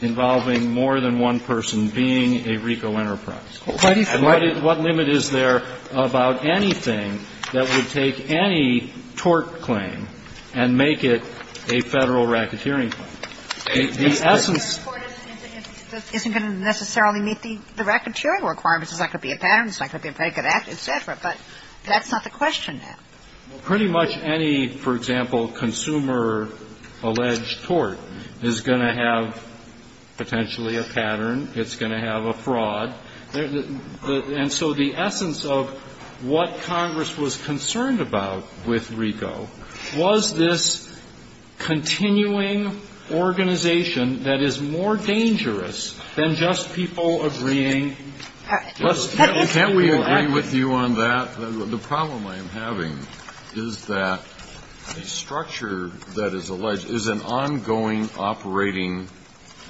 involving more than one person being a RICO enterprise? What limit is there about anything that would take any tort claim and make it a Federal racketeering claim? The essence of the court is if it isn't going to necessarily meet the racketeering requirements, it's not going to be a pattern, it's not going to be a very good act, et cetera. But that's not the question now. Well, pretty much any, for example, consumer-alleged tort is going to have potentially a pattern. It's going to have a fraud. And so the essence of what Congress was concerned about with RICO was this continuing organization that is more dangerous than just people agreeing. Can't we agree with you on that? The problem I am having is that a structure that is alleged is an ongoing operating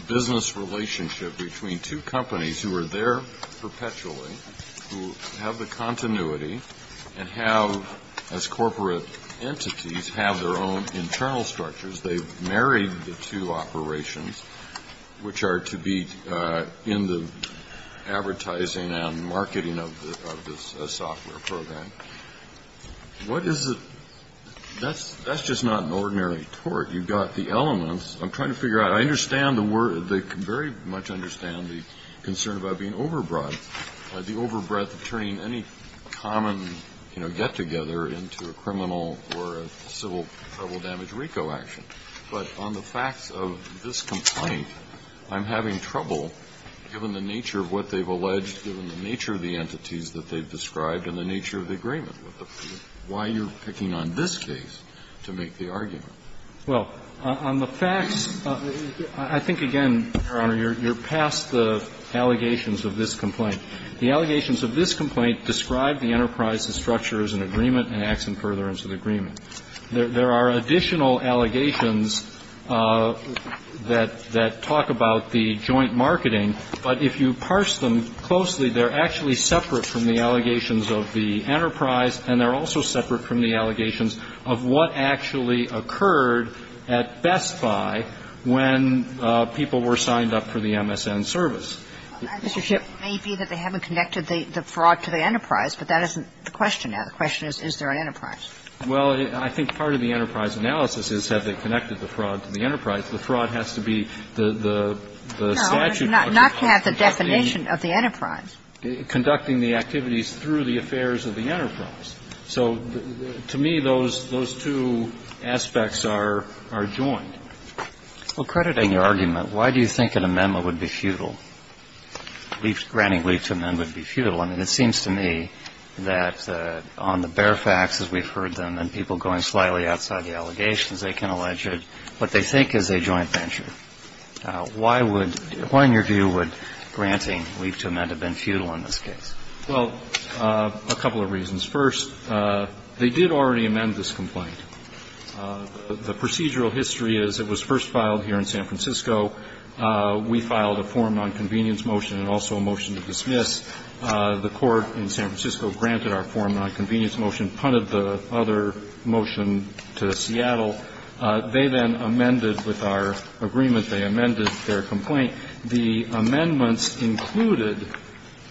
business relationship between two companies who are there perpetually, who have the continuity, and have, as corporate entities, have their own internal structures. They've married the two operations, which are to be in the advertising and marketing of this software program. What is the – that's just not an ordinary tort. You've got the elements. I'm trying to figure out. I understand the – I very much understand the concern about being overbroad, the overbreadth of turning any common, you know, get-together into a criminal or a civil damage RICO action. But on the facts of this complaint, I'm having trouble, given the nature of what they've alleged, given the nature of the entities that they've described, and the nature of the agreement with them, why you're picking on this case to make the argument. Well, on the facts, I think, again, Your Honor, you're past the allegations of this complaint. The allegations of this complaint describe the enterprise and structure as an agreement and acts in furtherance of the agreement. There are additional allegations that talk about the joint marketing, but if you parse them closely, they're actually separate from the allegations of the enterprise and they're also separate from the allegations of what actually occurred at Best Buy when people were signed up for the MSN service. Mr. Shipp. It may be that they haven't connected the fraud to the enterprise, but that isn't the question now. The question is, is there an enterprise? Well, I think part of the enterprise analysis is, have they connected the fraud to the enterprise? The fraud has to be the statute of conduct. No, not to have the definition of the enterprise. Conducting the activities through the affairs of the enterprise. So to me, those two aspects are joined. Well, crediting your argument, why do you think an amendment would be futile? Granting leaf to amend would be futile. I mean, it seems to me that on the bare facts, as we've heard them, and people going slightly outside the allegations, they can allege it, what they think is a joint venture. Why would, why in your view would granting leaf to amend have been futile in this case? Well, a couple of reasons. First, they did already amend this complaint. The procedural history is it was first filed here in San Francisco. We filed a form on convenience motion and also a motion to dismiss. The court in San Francisco granted our form on convenience motion, punted the other motion to Seattle. They then amended with our agreement, they amended their complaint. The amendments included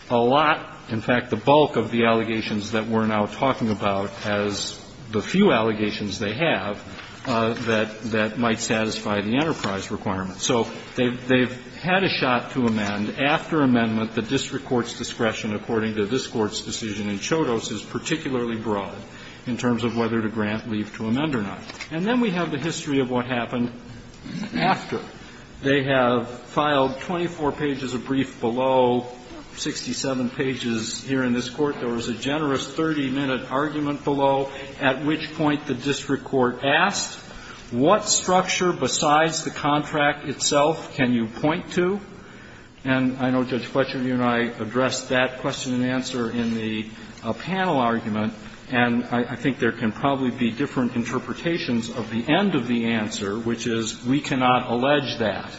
a lot, in fact, the bulk of the allegations that we're now talking about as the few allegations they have that, that might satisfy the enterprise requirement. So they've, they've had a shot to amend. After amendment, the district court's discretion according to this Court's decision in Chodos is particularly broad in terms of whether to grant leaf to amend or not. And then we have the history of what happened after. They have filed 24 pages of brief below, 67 pages here in this Court. There was a generous 30-minute argument below, at which point the district court asked what structure besides the contract itself can you point to. And I know, Judge Fletcher, you and I addressed that question and answer in the panel argument, and I think there can probably be different interpretations of the end of the answer, which is we cannot allege that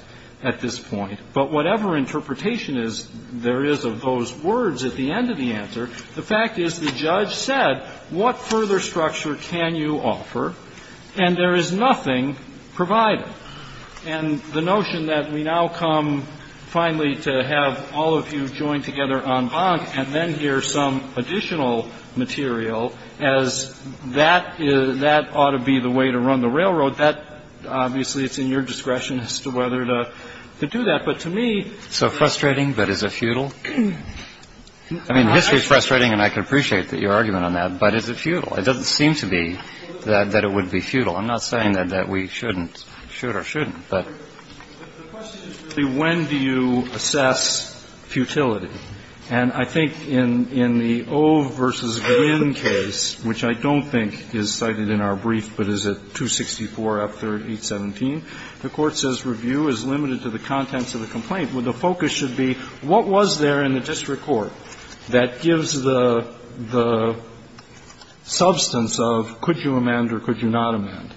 at this point. But whatever interpretation is, there is of those words at the end of the answer. The fact is the judge said, what further structure can you offer, and there is nothing provided. And the notion that we now come finally to have all of you join together en banc and then hear some additional material as that is, that ought to be the way to run the railroad, that obviously it's in your discretion as to whether to, to do that. But to me, it's a futile argument. I mean, history is frustrating and I can appreciate your argument on that, but is it futile? It doesn't seem to be that it would be futile. I'm not saying that we shouldn't, should or shouldn't, but. But the question is really when do you assess futility? And I think in the Ove v. Green case, which I don't think is cited in our brief, but is it 264 F. 3rd, 817, the Court says review is limited to the contents of the complaint. The focus should be what was there in the district court? That gives the, the substance of could you amend or could you not amend?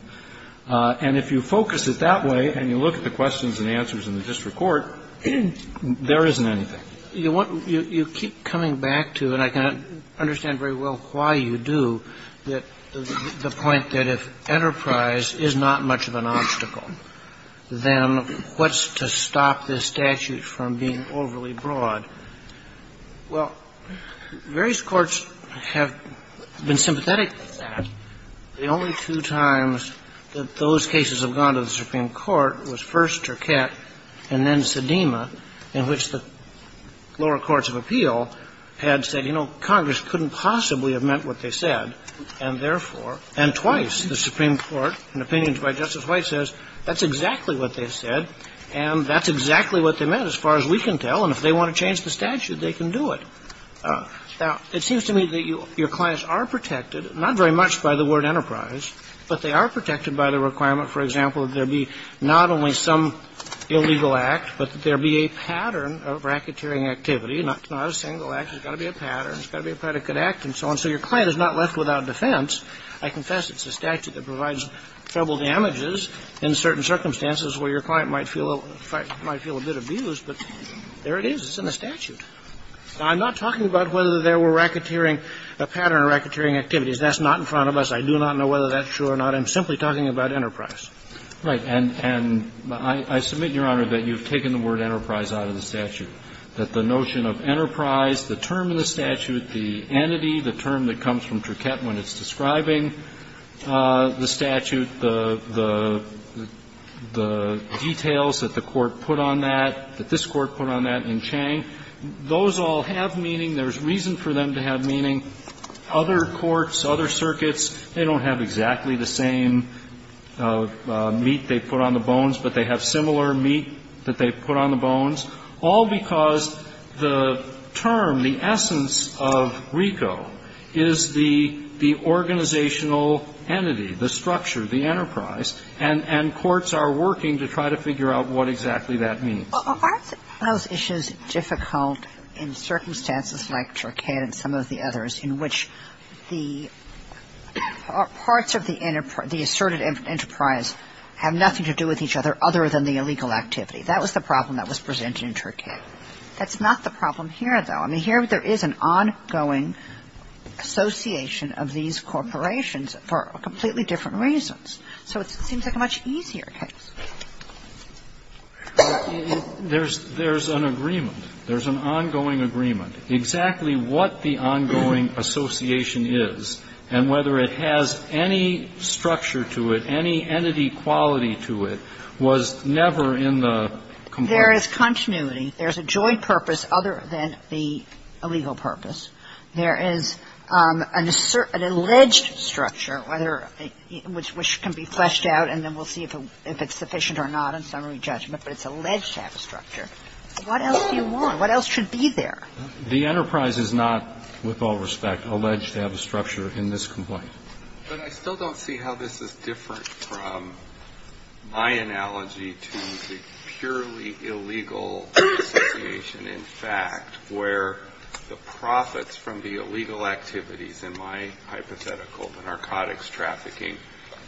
And if you focus it that way and you look at the questions and answers in the district court, there isn't anything. You want, you keep coming back to, and I can understand very well why you do, that the point that if enterprise is not much of an obstacle, then what's to stop this statute from being overly broad? Well, various courts have been sympathetic to that. The only two times that those cases have gone to the Supreme Court was first Turcotte and then Sedema, in which the lower courts of appeal had said, you know, Congress couldn't possibly have meant what they said, and therefore, and twice the Supreme Court, in opinions by Justice White, says that's exactly what they said and that's And if they want to change the statute, they can do it. Now, it seems to me that your clients are protected, not very much by the word enterprise, but they are protected by the requirement, for example, that there be not only some illegal act, but that there be a pattern of racketeering activity, not a single act, there's got to be a pattern, there's got to be a predicate act and so on, so your client is not left without defense. I confess it's a statute that provides trouble damages in certain circumstances where your client might feel a bit abused, but there it is, it's in the statute. I'm not talking about whether there were racketeering, a pattern of racketeering activities. That's not in front of us. I do not know whether that's true or not. I'm simply talking about enterprise. Right. And I submit, Your Honor, that you've taken the word enterprise out of the statute, that the notion of enterprise, the term in the statute, the entity, the term that is driving the statute, the details that the Court put on that, that this Court put on that in Chang, those all have meaning, there's reason for them to have meaning. Other courts, other circuits, they don't have exactly the same meat they put on the bones, but they have similar meat that they put on the bones, all because the term, entity, the structure, the enterprise, and courts are working to try to figure out what exactly that means. Well, aren't those issues difficult in circumstances like Turcate and some of the others in which the parts of the asserted enterprise have nothing to do with each other other than the illegal activity? That was the problem that was presented in Turcate. That's not the problem here, though. I mean, here there is an ongoing association of these corporations for completely different reasons. So it seems like a much easier case. There's an agreement. There's an ongoing agreement. Exactly what the ongoing association is and whether it has any structure to it, any entity quality to it, was never in the complaint. There is continuity. There's a joint purpose other than the illegal purpose. There is an alleged structure, whether the ‑‑ which can be fleshed out and then we'll see if it's sufficient or not on summary judgment, but it's alleged to have a structure. What else do you want? What else should be there? The enterprise is not, with all respect, alleged to have a structure in this complaint. But I still don't see how this is different from my analogy to the purely illegal association, in fact, where the profits from the illegal activities in my hypothetical, the narcotics trafficking,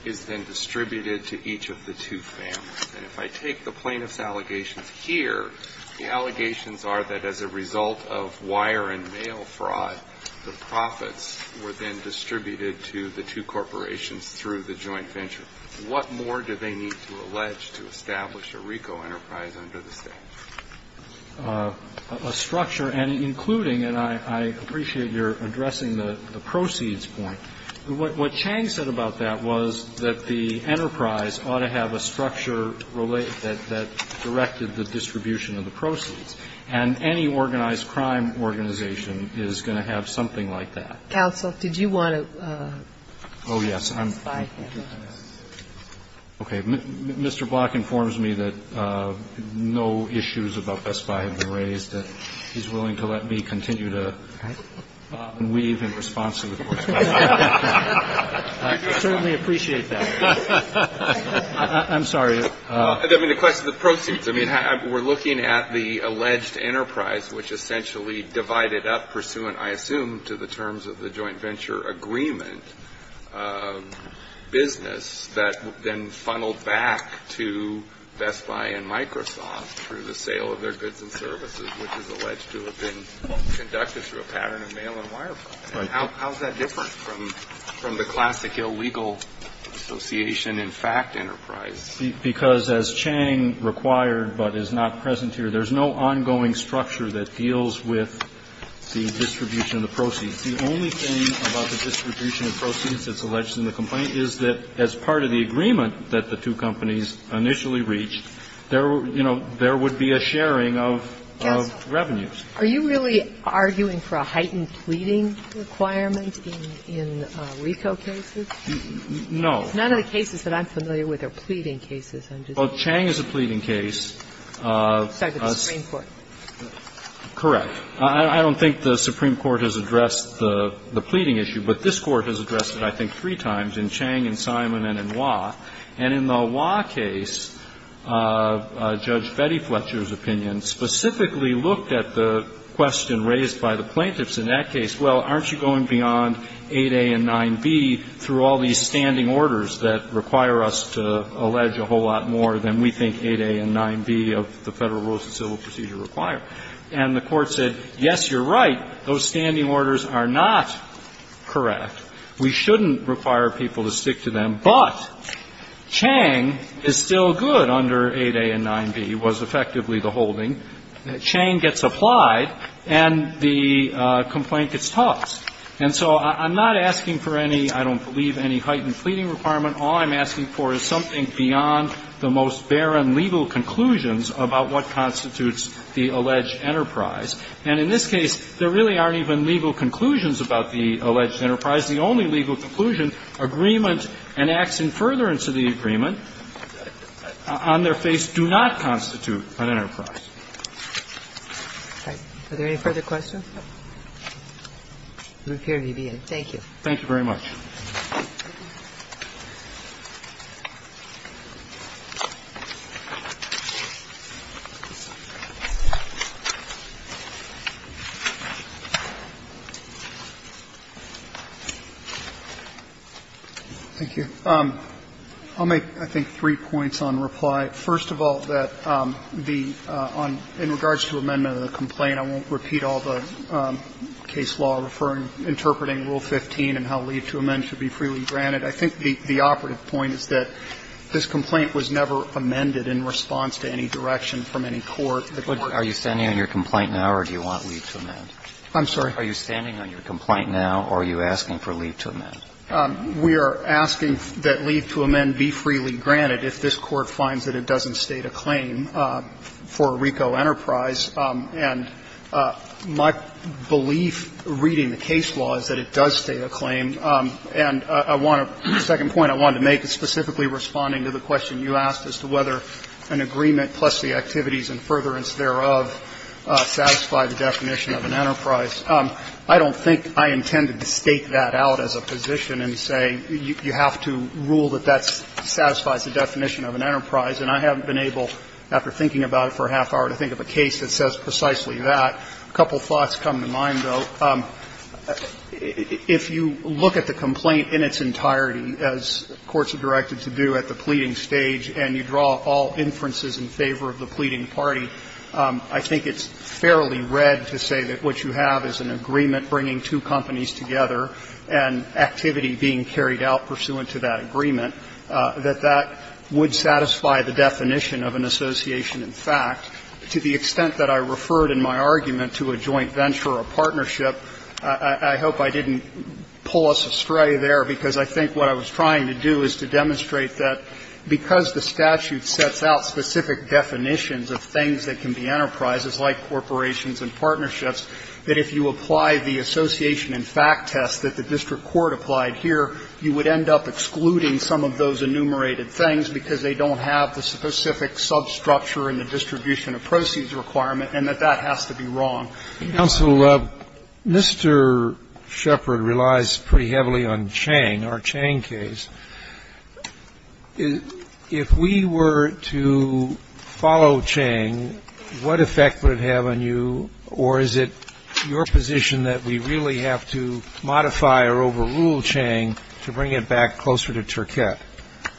is then distributed to each of the two families. And if I take the plaintiff's allegations here, the allegations are that as a result of wire and mail fraud, the profits were then distributed to the two corporations through the joint venture. What more do they need to allege to establish a RICO enterprise under the statute? A structure, and including, and I appreciate your addressing the proceeds point. What Chang said about that was that the enterprise ought to have a structure that directed the distribution of the proceeds. And any organized crime organization is going to have something like that. Counsel, did you want to testify? Okay. Mr. Block informs me that no issues about Best Buy have been raised, and he's willing to let me continue to weave in response to the Court's question. I certainly appreciate that. I'm sorry. I mean, the question of the proceeds. I mean, we're looking at the alleged enterprise, which essentially divided up pursuant, I assume, to the terms of the joint venture agreement. A business that then funneled back to Best Buy and Microsoft through the sale of their goods and services, which is alleged to have been conducted through a pattern of mail and wire fraud. How is that different from the classic illegal association in fact enterprise? Because as Chang required, but is not present here, there's no ongoing structure that deals with the distribution of the proceeds. The only thing about the distribution of proceeds that's alleged in the complaint is that as part of the agreement that the two companies initially reached, there were, you know, there would be a sharing of revenues. Are you really arguing for a heightened pleading requirement in RICO cases? No. None of the cases that I'm familiar with are pleading cases. Well, Chang is a pleading case. Sorry, the Supreme Court. Correct. I don't think the Supreme Court has addressed the pleading issue, but this Court has addressed it I think three times in Chang and Simon and in Waugh. And in the Waugh case, Judge Betty Fletcher's opinion specifically looked at the question raised by the plaintiffs in that case, well, aren't you going beyond 8a and 9b through all these standing orders that require us to allege a whole lot more than we think 8a and 9b of the Federal Rules of Civil Procedure require? And the Court said, yes, you're right, those standing orders are not correct. We shouldn't require people to stick to them, but Chang is still good under 8a and 9b was effectively the holding. Chang gets applied and the complaint gets tossed. And so I'm not asking for any, I don't believe, any heightened pleading requirement. All I'm asking for is something beyond the most barren legal conclusions about what the alleged enterprise, and in this case, there really aren't even legal conclusions about the alleged enterprise. The only legal conclusion, agreement enacts in furtherance of the agreement, on their face do not constitute an enterprise. Are there any further questions? We appear to be at a break. Thank you. Thank you very much. I'll make, I think, three points on reply. First of all, in regards to amendment of the complaint, I won't repeat all the case law interpreting Rule 15 and how leave to amend should be freely granted. I think the operative point is that this complaint was never amended in response to any direction from any court. But are you standing on your complaint now or do you want leave to amend? I'm sorry? Are you standing on your complaint now or are you asking for leave to amend? We are asking that leave to amend be freely granted if this Court finds that it doesn't state a claim for a RICO enterprise. And my belief, reading the case law, is that it does state a claim. And I want to – the second point I wanted to make is specifically responding to the question you asked as to whether an agreement plus the activities in furtherance thereof satisfy the definition of an enterprise. I don't think I intended to stake that out as a position and say you have to rule that that satisfies the definition of an enterprise, and I haven't been able, after thinking about it for a half hour, to think of a case that says precisely that. A couple of thoughts come to mind, though. If you look at the complaint in its entirety, as courts are directed to do at the pleading stage, and you draw all inferences in favor of the pleading party, I think it's fairly read to say that what you have is an agreement bringing two companies together and activity being carried out pursuant to that agreement, that that would satisfy the definition of an association in fact. To the extent that I referred in my argument to a joint venture or a partnership, I hope I didn't pull us astray there, because I think what I was trying to do is to demonstrate that because the statute sets out specific definitions of things that can be enterprises, like corporations and partnerships, that if you apply the association in fact test that the district court applied here, you would end up excluding some of those enumerated things because they don't have the specific substructure in the distribution of proceeds requirement, and that that has to be wrong. Roberts. Counsel, Mr. Shepherd relies pretty heavily on Chang, our Chang case. If we were to follow Chang, what effect would it have on you, or is it your position that we really have to modify or overrule Chang to bring it back closer to Turkey?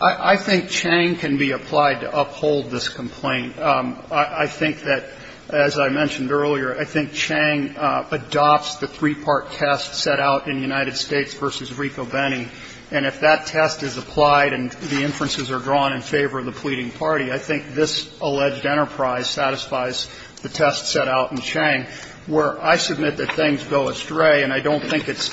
I think Chang can be applied to uphold this complaint. I think that, as I mentioned earlier, I think Chang adopts the three-part test set out in United States v. Rico-Benni, and if that test is applied and the inferences are drawn in favor of the pleading party, I think this alleged enterprise satisfies the test set out in Chang, where I submit that things go astray, and I don't think it's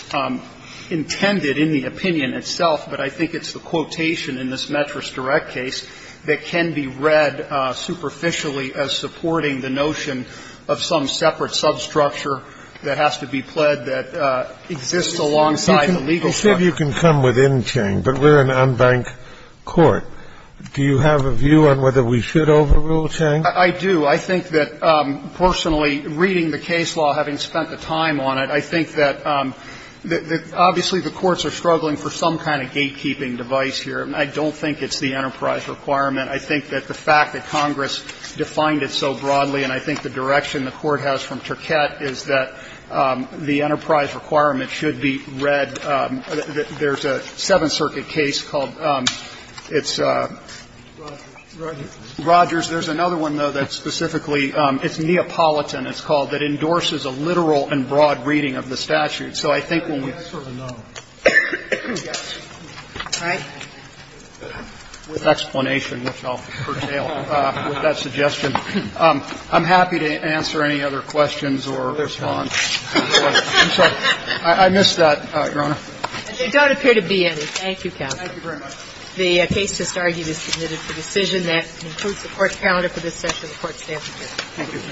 intended in the opinion itself, but I think it's the quotation in this Metris Direct case that can be read superficially as supporting the notion of some separate substructure that has to be pled that exists alongside the legal structure. You said you can come within Chang, but we're an unbanked court. Do you have a view on whether we should overrule Chang? I do. I think that personally, reading the case law, having spent the time on it, I think that obviously the courts are struggling for some kind of gatekeeping device here. I don't think it's the enterprise requirement. I think that the fact that Congress defined it so broadly, and I think the direction the Court has from Turquette is that the enterprise requirement should be read. There's a Seventh Circuit case called, it's Rogers. There's another one, though, that's specifically, it's Neapolitan, it's called, that endorses a literal and broad reading of the statute. So I think when we do that, I'm happy to answer any other questions or response. I'm sorry, I missed that, Your Honor. They don't appear to be any. Thank you, counsel. Thank you very much. The case just argued is submitted for decision. That concludes the Court's calendar for this session of the Court's staff review. Thank you.